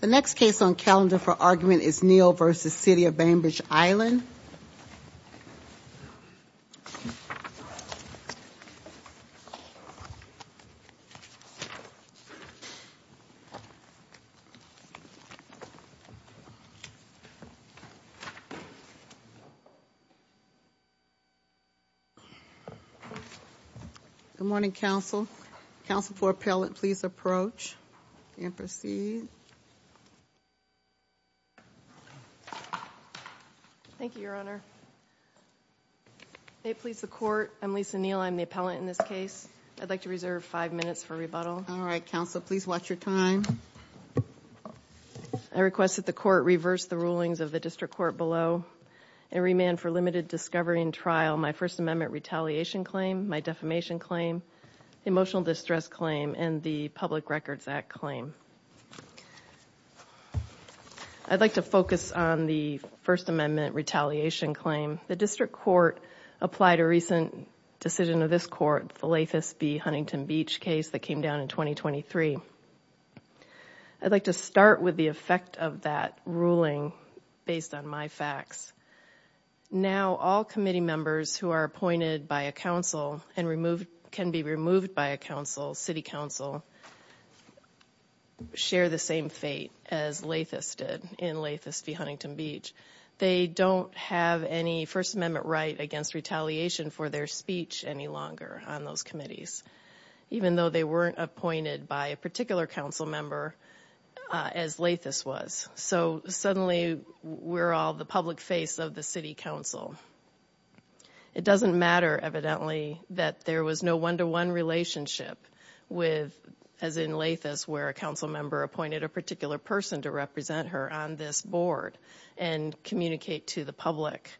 The next case on calendar for argument is Neal v. City of Bainbridge Island. Good morning, counsel. Counsel for appellate, please approach and proceed. I request that the court reverse the rulings of the district court below and remand for limited discovery and trial my First Amendment retaliation claim, my defamation claim, emotional distress claim, and the Public Records Act claim. I'd like to focus on the First Amendment retaliation claim. The district court applied a recent decision of this court, the Lathis v. Huntington Beach case that came down in 2023. I'd like to start with the effect of that ruling based on my facts. Now, all committee members who are appointed by a council and can be removed by a council, city council, share the same fate as Lathis did in Lathis v. Huntington Beach. They don't have any First Amendment right against retaliation for their speech any longer on those committees, even though they weren't appointed by a particular council member as Lathis was. So suddenly, we're all the public face of the city council. It doesn't matter, evidently, that there was no one-to-one relationship with, as in Lathis, where a council member appointed a particular person to represent her on this board and communicate to the public.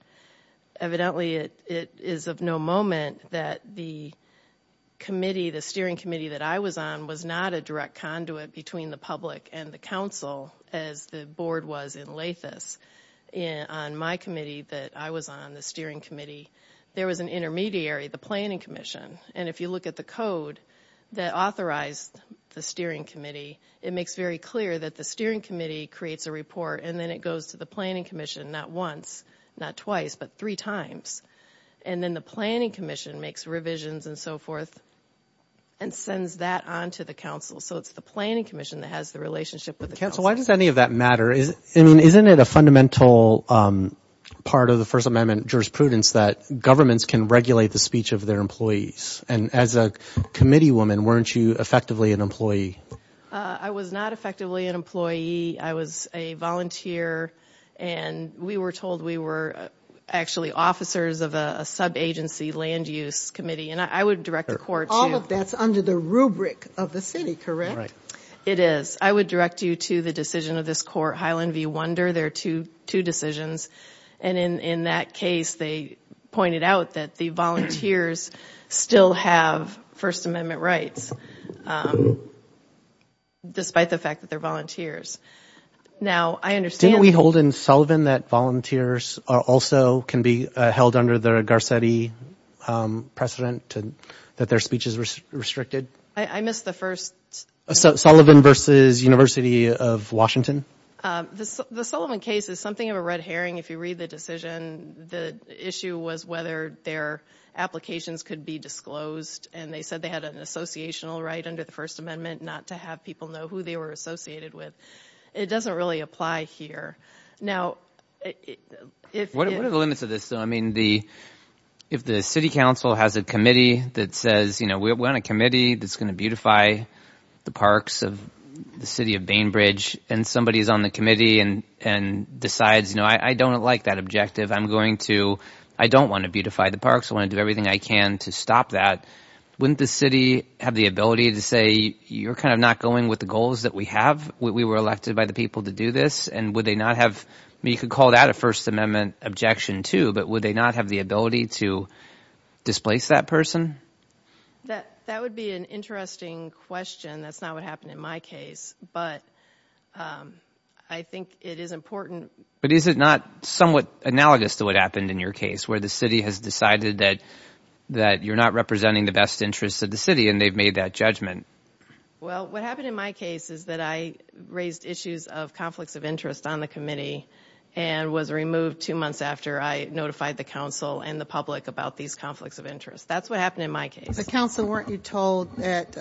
Evidently, it is of no moment that the committee, the steering committee that I was on, was not a direct conduit between the public and the council as the board was in Lathis. On my committee that I was on, the steering committee, there was an intermediary, the planning commission. And if you look at the code that authorized the steering committee, it makes very clear that the steering committee creates a report and then it goes to the planning commission, not once, not twice, but three times. And then the planning commission makes revisions and so forth and sends that on to the council. So it's the planning commission that has the relationship with the council. Council, why does any of that matter? I mean, isn't it a fundamental part of the First Amendment jurisprudence that governments can regulate the speech of their employees? And as a committee woman, weren't you effectively an employee? I was not effectively an employee. I was a volunteer and we were told we were actually officers of a sub-agency land use committee. And I would direct the court to... All of that's under the rubric of the city, correct? It is. I would direct you to the decision of this court, Highland v. Wunder. They're two decisions. And in that case, they pointed out that the volunteers still have First Amendment rights, despite the fact that they're volunteers. Now I understand... Didn't we hold in Sullivan that volunteers also can be held under the Garcetti precedent that their speech is restricted? I missed the first... Sullivan v. University of Washington? The Sullivan case is something of a red herring. If you read the decision, the issue was whether their applications could be disclosed. And they said they had an associational right under the First Amendment not to have people know who they were associated with. It doesn't really apply here. Now if... What are the limits of this though? I mean, if the city council has a committee that says, you know, we're on a committee that's going to beautify the parks of the city of Bainbridge, and somebody is on the committee and decides, you know, I don't like that objective. I'm going to... I don't want to beautify the parks. I want to do everything I can to stop that. Wouldn't the city have the ability to say, you're kind of not going with the goals that we have? We were elected by the people to do this. And would they not have... I mean, you could call that a First Amendment objection too, but would they not have the ability to displace that person? That would be an interesting question. That's not what happened in my case. But I think it is important... But is it not somewhat analogous to what happened in your case, where the city has decided that you're not representing the best interests of the city and they've made that judgment? Well, what happened in my case is that I raised issues of conflicts of interest on the committee and was removed two months after I notified the council and the public about these conflicts of interest. That's what happened in my case. The council, weren't you told that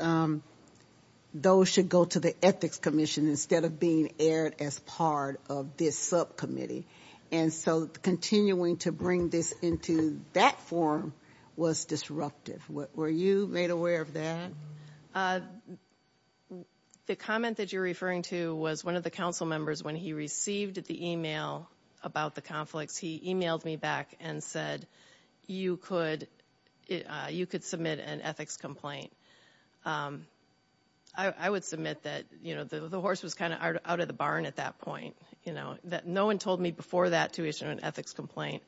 those should go to the Ethics Commission instead of being aired as part of this subcommittee? And so, continuing to bring this into that form was disruptive. Were you made aware of that? The comment that you're referring to was one of the council members, when he received the email about the conflicts, he emailed me back and said, you could submit an ethics complaint. I would submit that the horse was kind of out of the barn at that point. No one told me before that to issue an ethics complaint.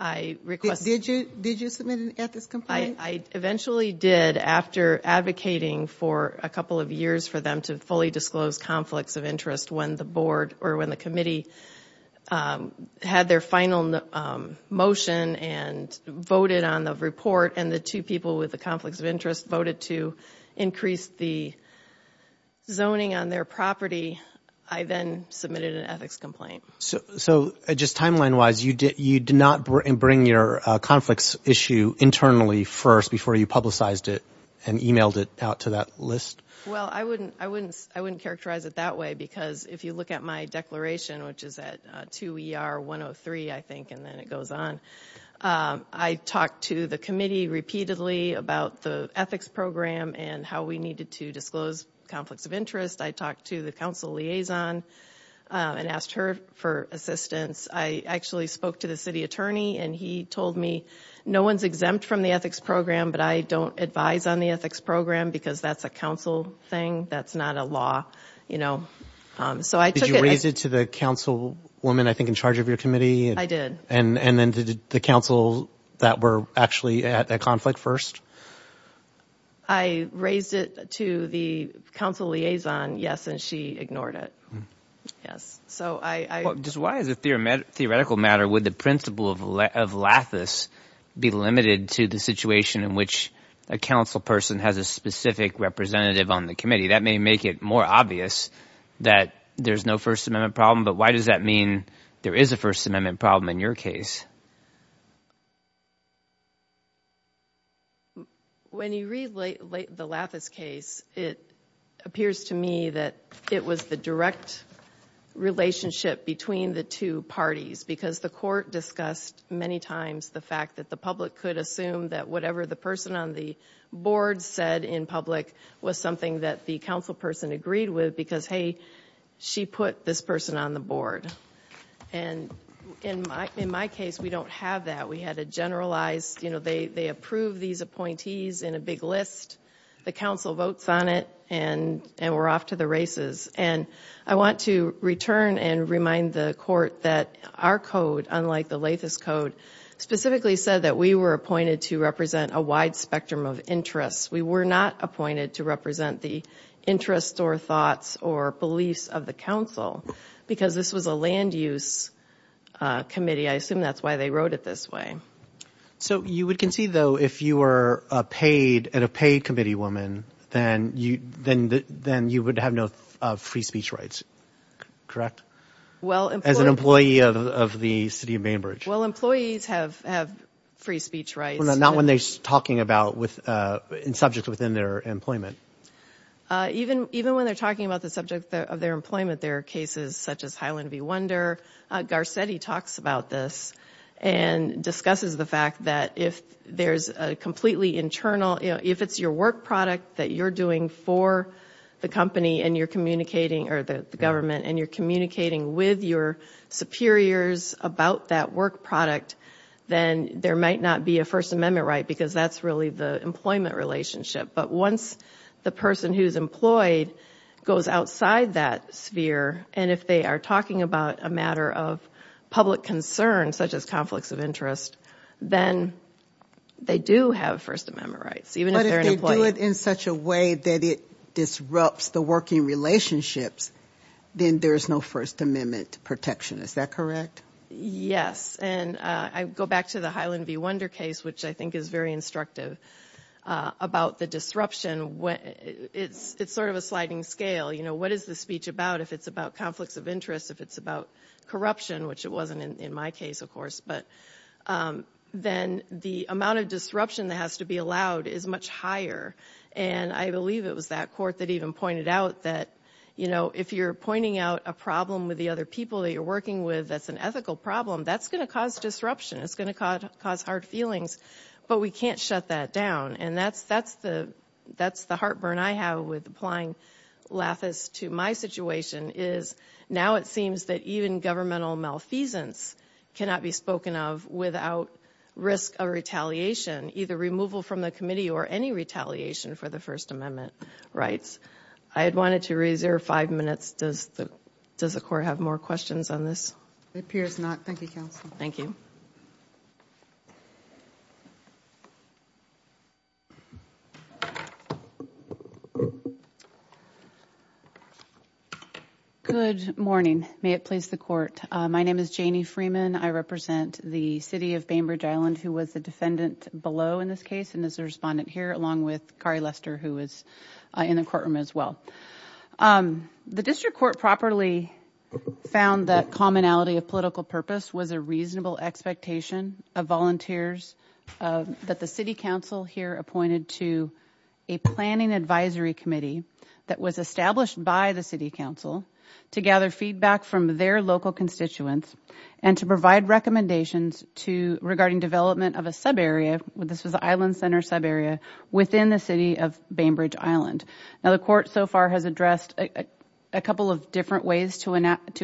I requested... Did you submit an ethics complaint? I eventually did after advocating for a couple of years for them to fully disclose conflicts of interest when the board or when the committee had their final motion and voted on the report and the two people with the conflicts of interest voted to increase the zoning on their property. I then submitted an ethics complaint. So just timeline-wise, you did not bring your conflicts issue internally first before you publicized it and emailed it out to that list? Well, I wouldn't characterize it that way because if you look at my declaration, which is at 2 ER 103, I think, and then it goes on, I talked to the committee repeatedly about the ethics program and how we needed to disclose conflicts of interest. I talked to the council liaison and asked her for assistance. I actually spoke to the city attorney and he told me, no one's exempt from the ethics program, but I don't advise on the ethics program because that's a council thing. That's not a law. So I took it... Did you raise it to the councilwoman, I think, in charge of your committee? I did. And then to the council that were actually at that conflict first? I raised it to the council liaison, yes, and she ignored it. So I... Just why as a theoretical matter, would the principle of lathis be limited to the situation in which a council person has a specific representative on the committee? That may make it more obvious that there's no First Amendment problem, but why does that mean there is a First Amendment problem in your case? When you read the lathis case, it appears to me that it was the direct relationship between the two parties because the court discussed many times the fact that the public could assume that whatever the person on the board said in public was something that the council person agreed with because, hey, she put this person on the board. And in my case, we don't have that. We had a generalized, you know, they approve these appointees in a big list. The council votes on it, and we're off to the races. And I want to return and remind the court that our code, unlike the lathis code, specifically said that we were appointed to represent a wide spectrum of interests. We were not appointed to represent the interests or thoughts or beliefs of the council because this was a land-use committee. I assume that's why they wrote it this way. So you would concede, though, if you were a paid committee woman, then you would have no free speech rights, correct? As an employee of the city of Bainbridge. Well, employees have free speech rights. Not when they're talking about subjects within their employment. Even when they're talking about the subject of their employment, there are cases such as Highland v. Wunder. Garcetti talks about this and discusses the fact that if there's a completely internal – if it's your work product that you're doing for the company and you're communicating – or the government – and you're communicating with your superiors about that work product, then there might not be a First Amendment right because that's really the employment relationship. But once the person who's employed goes outside that sphere, and if they are talking about a matter of public concern, such as conflicts of interest, then they do have First Amendment rights, even if they're an employee. But if they do it in such a way that it disrupts the working relationships, then there's no First Amendment protection. Is that correct? Yes. And I go back to the Highland v. Wunder case, which I think is very instructive about the disruption. It's sort of a sliding scale. What is the speech about? If it's about conflicts of interest, if it's about corruption – which it wasn't in my case, of course – then the amount of disruption that has to be allowed is much higher. And I believe it was that court that even pointed out that if you're pointing out a problem with the other people that you're working with that's an ethical problem, that's going to cause disruption. It's going to cause hard feelings. But we can't shut that down. And that's the heartburn I have with applying Lathis to my situation, is now it seems that even governmental malfeasance cannot be spoken of without risk of retaliation, either removal from the committee or any retaliation for the First Amendment rights. I had wanted to reserve five minutes. Does the court have more questions on this? It appears not. Thank you, Counsel. Thank you. Good morning. May it please the Court. My name is Janie Freeman. I represent the City of Bainbridge Island, who was the defendant below in this case and is the respondent here, along with Kari Lester, who is in the courtroom as well. The district court properly found that commonality of political purpose was a reasonable expectation of volunteers that the City Council here appointed to a planning advisory committee that was established by the City Council to gather feedback from their local constituents and to provide recommendations regarding development of a subarea, this was an Island Center subarea, within the City of Bainbridge Island. Now, the court so far has addressed a couple of different ways to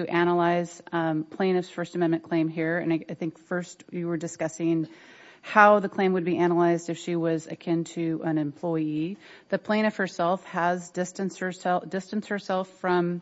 analyze plaintiff's First Amendment claim here, and I think first you were discussing how the claim would be analyzed if she was akin to an employee. The plaintiff herself has distanced herself from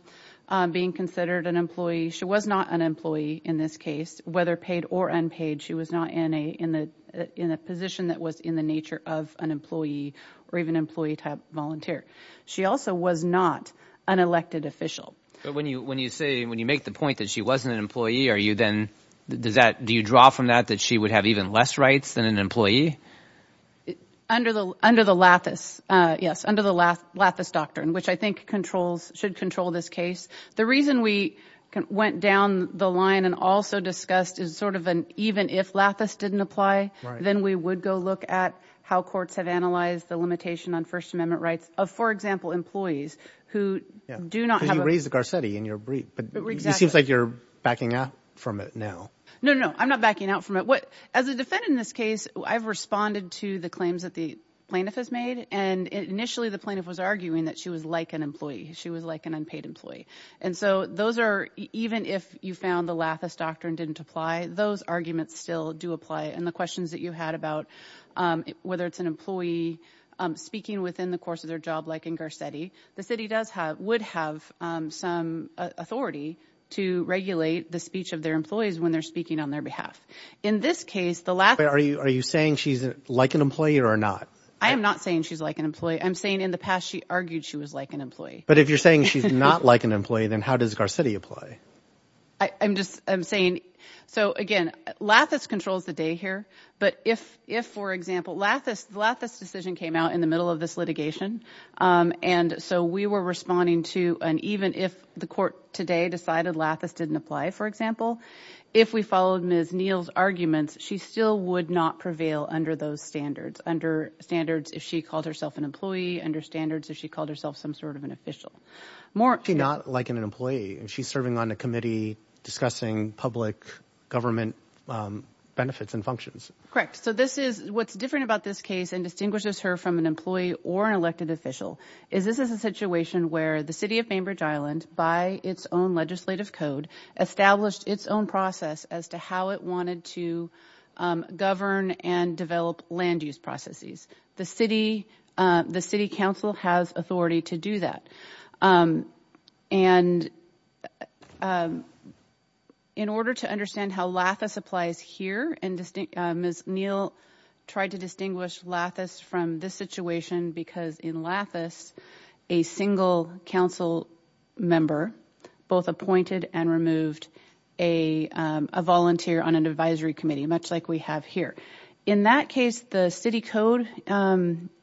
being considered an employee. She was not an employee in this case, whether paid or unpaid, she was not in a position that was in the nature of an employee or even employee-type volunteer. She also was not an elected official. When you say, when you make the point that she wasn't an employee, are you then, do you draw from that that she would have even less rights than an employee? Under the Lathis, yes, under the Lathis doctrine, which I think should control this case. The reason we went down the line and also discussed is sort of an even if Lathis didn't apply, then we would go look at how courts have analyzed the limitation on First Amendment rights of, for example, employees who do not have a- Because you raised the Garcetti in your brief, but it seems like you're backing out from it now. No, no, no, I'm not backing out from it. As a defendant in this case, I've responded to the claims that the plaintiff has made, and initially the plaintiff was arguing that she was like an employee. She was like an unpaid employee. And so those are, even if you found the Lathis doctrine didn't apply, those arguments still do apply. And the questions that you had about whether it's an employee speaking within the course of their job, like in Garcetti, the city does have, would have some authority to regulate the speech of their employees when they're speaking on their behalf. In this case, the Lathis- Wait, are you saying she's like an employee or not? I am not saying she's like an employee. I'm saying in the past she argued she was like an employee. But if you're saying she's not like an employee, then how does Garcetti apply? I'm just, I'm saying, so again, Lathis controls the day here. But if, if for example, Lathis, the Lathis decision came out in the middle of this litigation. And so we were responding to, and even if the court today decided Lathis didn't apply, for example, if we followed Ms. Neal's arguments, she still would not prevail under those standards. Under standards if she called herself an employee, under standards if she called herself some sort of an official. She's not like an employee. She's serving on a committee discussing public government benefits and functions. Correct. So this is, what's different about this case and distinguishes her from an employee or an elected official is this is a situation where the city of Bainbridge Island, by its own legislative code, established its own process as to how it wanted to govern and develop land use processes. The city, the city council has authority to do that. And in order to understand how Lathis applies here, and Ms. Neal tried to distinguish Lathis from this situation because in Lathis, a single council member both appointed and removed a volunteer on an advisory committee, much like we have here. In that case, the city code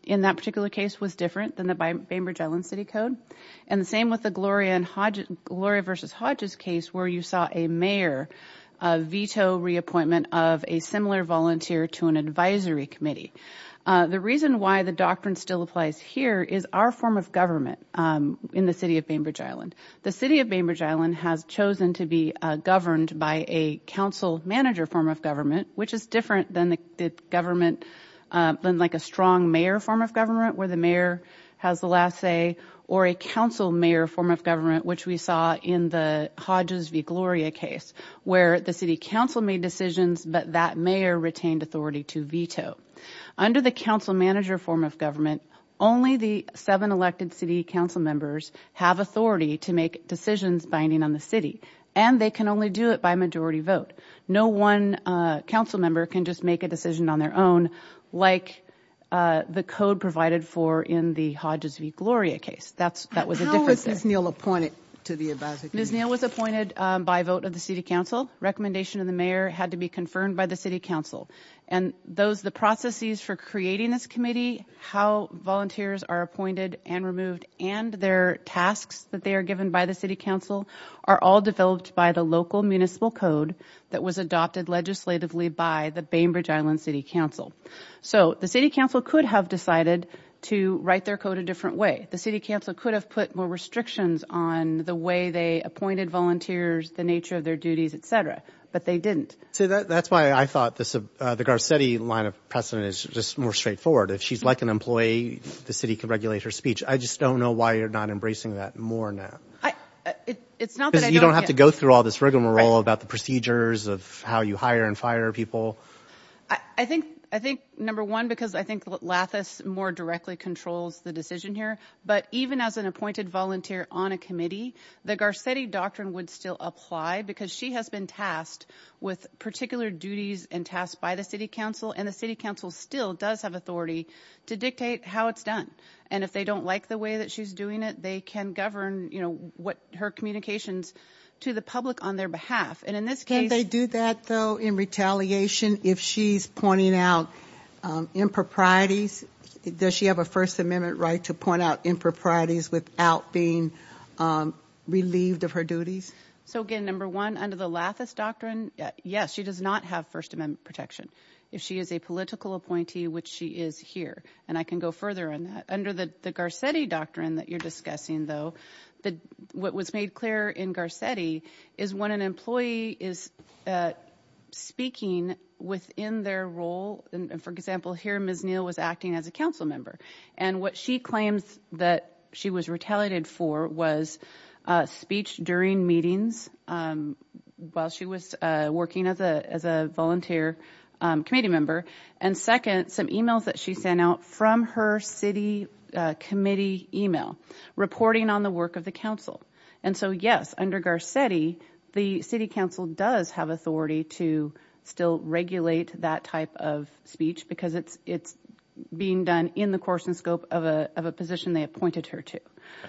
in that particular case was different than the Bainbridge Island city code. And the same with the Gloria versus Hodges case where you saw a mayor veto reappointment of a similar volunteer to an advisory committee. The reason why the doctrine still applies here is our form of government in the city of Bainbridge Island. The city of Bainbridge Island has chosen to be governed by a council manager form of government, which is different than the government, than like a strong mayor form of government where the mayor has the last say or a council mayor form of government, which we saw in the Hodges v. Gloria case where the city council made decisions, but that mayor retained authority to veto. Under the council manager form of government, only the seven elected city council members have authority to make decisions binding on the city. And they can only do it by majority vote. No one council member can just make a decision on their own like the code provided for in the Hodges v. Gloria case. That was a different thing. How was Ms. Neal appointed to the advisory committee? Ms. Neal was appointed by vote of the city council. Recommendation of the mayor had to be confirmed by the city council. And those, the processes for creating this committee, how volunteers are appointed and removed and their tasks that they are given by the city council are all developed by the local municipal code that was adopted legislatively by the Bainbridge Island City Council. So the city council could have decided to write their code a different way. The city council could have put more restrictions on the way they appointed volunteers, the nature of their duties, etc. But they didn't. So that's why I thought the Garcetti line of precedent is just more straightforward. If she's like an employee, the city can regulate her speech. I just don't know why you're not embracing that more now. It's not that I don't get... Because you don't have to go through all this rigmarole about the procedures of how you hire and fire people. I think, number one, because I think Lathis more directly controls the decision here. But even as an appointed volunteer on a committee, the Garcetti doctrine would still apply because she has been tasked with particular duties and tasks by the city council. And the city council still does have authority to dictate how it's done. And if they don't like the way that she's doing it, they can govern what her communications to the public on their behalf. And in this case... Can they do that, though, in retaliation if she's pointing out improprieties? Does she have a First Amendment right to point out improprieties without being relieved of her duties? So again, number one, under the Lathis doctrine, yes, she does not have First Amendment protection if she is a political appointee, which she is here. And I can go further on that. Under the Garcetti doctrine that you're discussing, though, what was made clear in Garcetti is when an employee is speaking within their role. For example, here Ms. Neal was acting as a council member. And what she claims that she was retaliated for was speech during meetings while she was working as a volunteer committee member. And second, some emails that she sent out from her city committee email reporting on the work of the council. And so yes, under Garcetti, the city council does have authority to still regulate that type of speech because it's being done in the course and scope of a position they appointed her to.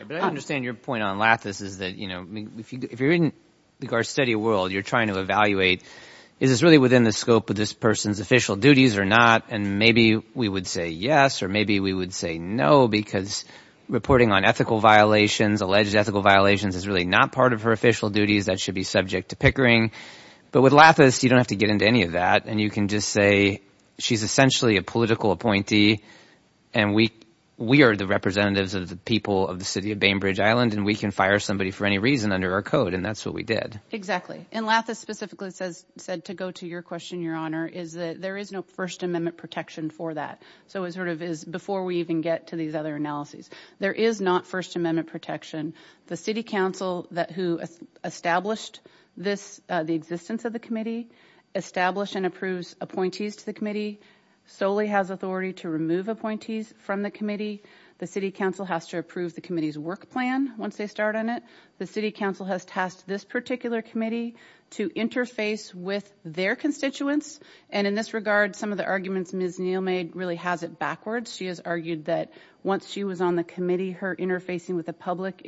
But I understand your point on Lathis is that if you're in the Garcetti world, you're trying to evaluate, is this really within the scope of this person's official duties or not? And maybe we would say yes, or maybe we would say no, because reporting on ethical violations, alleged ethical violations, is really not part of her official duties that should be subject to Pickering. But with Lathis, you don't have to get into any of that. And you can just say she's essentially a political appointee, and we are the representatives of the people of the city of Bainbridge Island, and we can fire somebody for any reason under our code. And that's what we did. Exactly. And Lathis specifically said to go to your question, Your Honor, is that there is no First Amendment protection for that. So it sort of is before we even get to these other analyses. There is not First Amendment protection. The city council who established the existence of the committee, established and approves appointees to the committee, solely has authority to remove appointees from the committee. The city council has to approve the committee's work plan once they start on it. The city council has tasked this particular committee to interface with their constituents. And in this regard, some of the arguments Ms. Neal made really has it backwards. She has argued that once she was on the committee, her interfacing with the public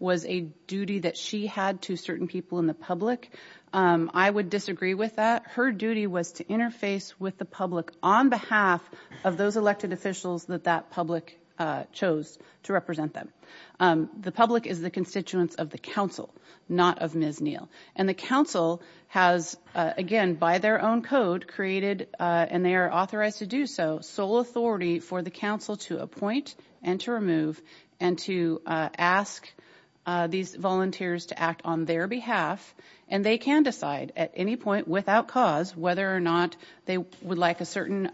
was a duty that she had to certain people in the public. I would disagree with that. Her duty was to interface with the public on behalf of those elected officials that that public chose to represent them. The public is the constituents of the council, not of Ms. Neal. And the council has, again, by their own code created, and they are authorized to do so, sole authority for the council to appoint and to remove and to ask these volunteers to act on their behalf. And they can decide at any point without cause whether or not they would like a certain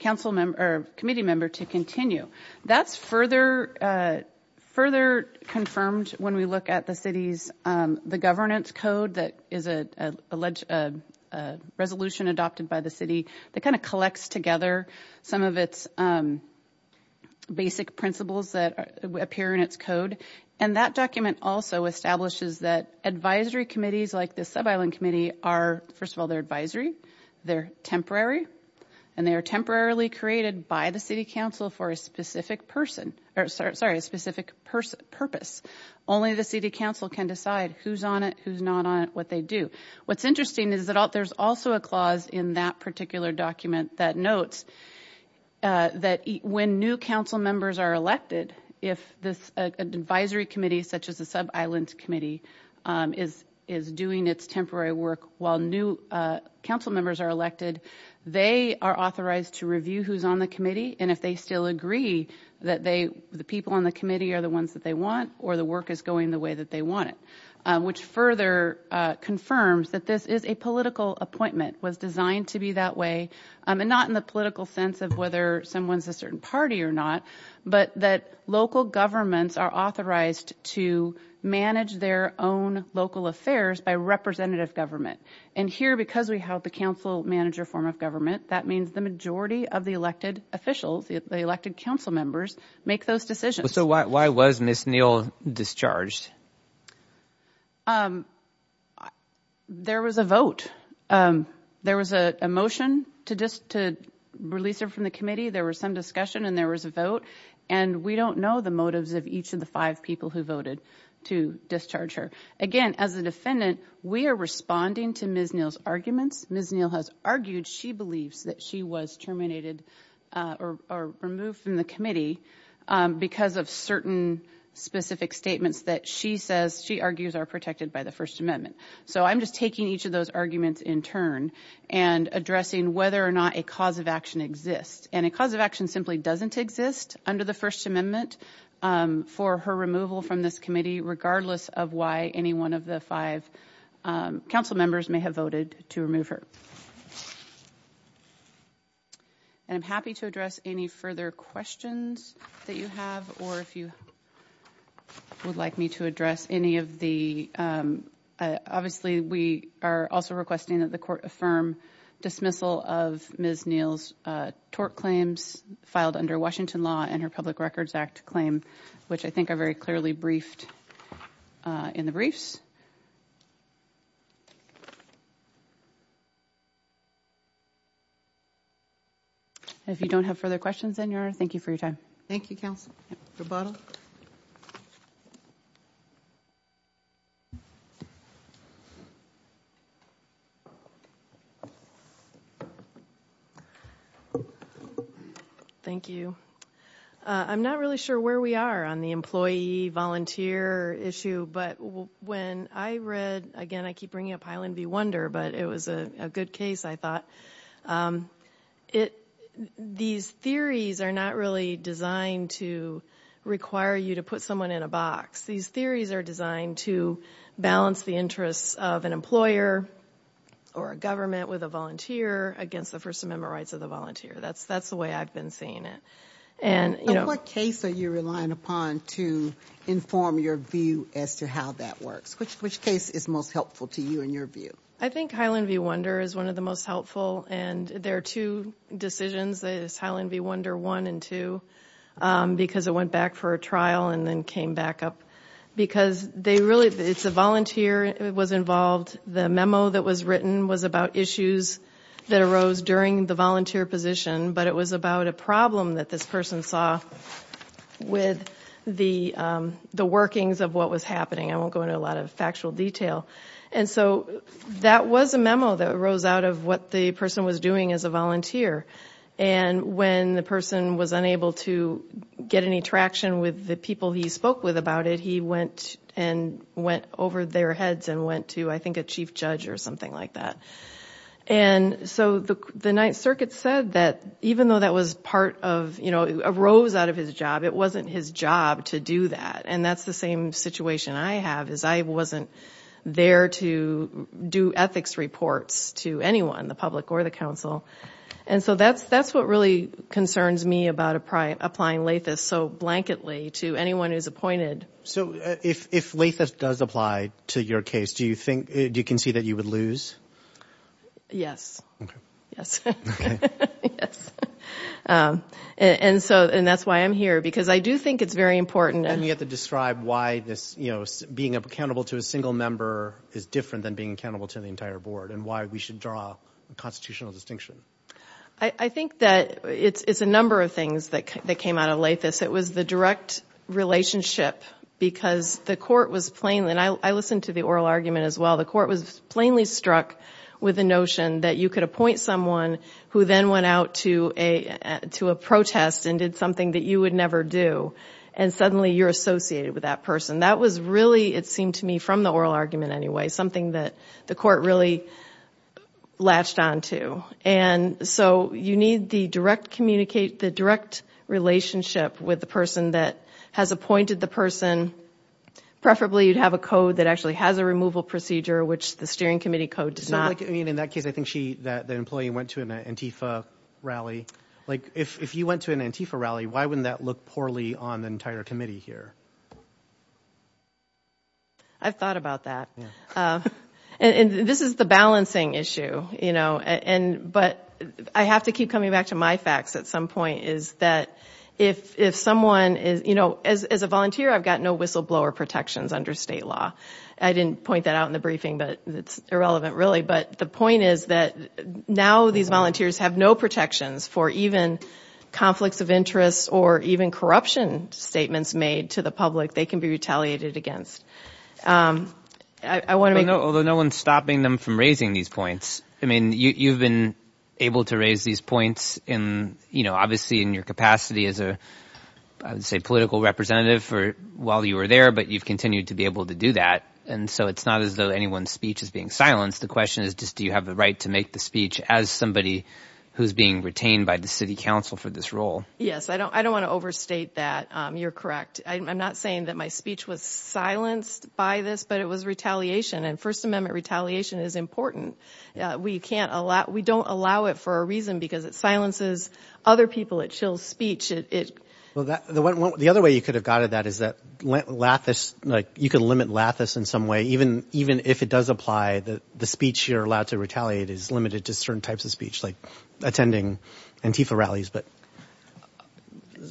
committee member to continue. That's further confirmed when we look at the city's governance code that is a resolution adopted by the city that kind of collects together some of its basic principles that appear in its code. And that document also establishes that advisory committees like the Sub-Island Committee are, first of all, they're advisory, they're temporary, and they are temporarily created by the city council for a specific person, or sorry, a specific purpose. Only the city council can decide who's on it, who's not on it, what they do. What's interesting is that there's also a clause in that particular document that notes that when new council members are elected, if this advisory committee, such as the Sub-Island Committee, is doing its temporary work while new council members are elected, they are authorized to review who's on the committee and if they still agree that the people on the committee are the ones that they want or the work is going the way that they want it. Which further confirms that this is a political appointment, was designed to be that way. Not in the political sense of whether someone's a certain party or not, but that local governments are authorized to manage their own local affairs by representative government. Here, because we have the council manager form of government, that means the majority of the elected officials, the elected council members, make those decisions. Why was Ms. Neal discharged? There was a vote. There was a motion to release her from the committee. There was some discussion and there was a vote. We don't know the motives of each of the five people who voted to discharge her. Again, as a defendant, we are responding to Ms. Neal's arguments. Ms. Neal has argued she believes that she was terminated or removed from the committee because of certain specific statements that she says she argues are protected by the First Amendment. I'm just taking each of those arguments in turn and addressing whether or not a cause of action exists. A cause of action simply doesn't exist under the First Amendment for her removal from this committee, regardless of why any one of the five council members may have voted to remove her. I'm happy to address any further questions that you have or if you would like me to address any of the... Obviously, we are also requesting that the court affirm dismissal of Ms. Neal's tort claims filed under Washington law and her Public Records Act claim, which I think are very clearly briefed in the briefs. If you don't have further questions, then, Your Honor, thank you for your time. Thank you, counsel. Roboto? Thank you. I'm not really sure where we are on the employee-volunteer issue, but when I read... Again, I keep bringing up Highland View Wonder, but it was a good case, I thought. These theories are not really designed to require you to put someone in a box. These theories are designed to balance the interests of an employer or a government with a volunteer against the First Amendment rights of the volunteer. That's the way I've been seeing it. What case are you relying upon to inform your view as to how that works? Which case is most helpful to you in your view? I think Highland View Wonder is one of the most helpful. There are two decisions, Highland View Wonder 1 and 2, because it went back for a trial and then came back up. It's a volunteer that was involved. The memo that was written was about issues that arose during the volunteer position, but it was about a problem that this person saw with the workings of what was happening. I won't go into a lot of factual detail. That was a memo that arose out of what the person was doing as a volunteer. When the person was unable to get any traction with the people he spoke with about it, he went over their heads and went to, I think, a chief judge or something like that. The Ninth Circuit said that even though that arose out of his job, it wasn't his job to do that. That's the same situation I have. I wasn't there to do ethics reports to anyone, the public or the council. That's what really concerns me about applying Lathis so blanketly to anyone who's appointed. If Lathis does apply to your case, do you concede that you would lose? Yes. Okay. Yes. Okay. Yes. That's why I'm here, because I do think it's very important. You have to describe why being accountable to a single member is different than being accountable to the entire board and why we should draw a constitutional distinction. I think that it's a number of things that came out of Lathis. It was the direct relationship, because the court was plainly... I listened to the oral argument as well. The court was plainly struck with the notion that you could appoint someone who then went out to a protest and did something that you would never do, and suddenly you're associated with that person. That was really, it seemed to me, from the oral argument anyway, something that the court really latched onto. You need the direct relationship with the person that has appointed the person. Preferably, you'd have a code that actually has a removal procedure, which the steering committee code does not. In that case, I think the employee went to an Antifa rally. If you went to an Antifa rally, why wouldn't that look poorly on the entire committee here? I've thought about that. This is the balancing issue. I have to keep coming back to my facts at some point, is that if someone... As a volunteer, I've got no whistleblower protections under state law. I didn't point that out in the briefing, but it's irrelevant really. The point is that now these volunteers have no protections for even conflicts of interest or even corruption statements made to the public. They can be retaliated against. I want to make... Although no one's stopping them from raising these points. You've been able to raise these points, obviously in your capacity as a, I would say, political representative while you were there, but you've continued to be able to do that. It's not as though anyone's speech is being silenced. The question is just, do you have the right to make the speech as somebody who's being retained by the city council for this role? Yes. I don't want to overstate that. You're correct. I'm not saying that my speech was silenced by this, but it was retaliation, and First Amendment retaliation is important. We don't allow it for a reason because it silences other people. It chills speech. The other way you could have got at that is that you could limit lathice in some way. Even if it does apply, the speech you're allowed to retaliate is limited to certain types of speech like attending Antifa rallies.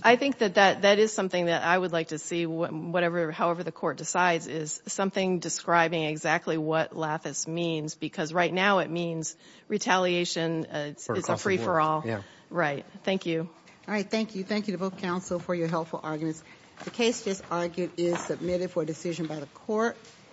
I think that that is something that I would like to see, however the court decides, is something describing exactly what lathice means, because right now it means retaliation. It's a free-for-all. Right. Thank you. All right. Thank you. Thank you to both counsel for your helpful arguments. The case just argued is submitted for decision by the court.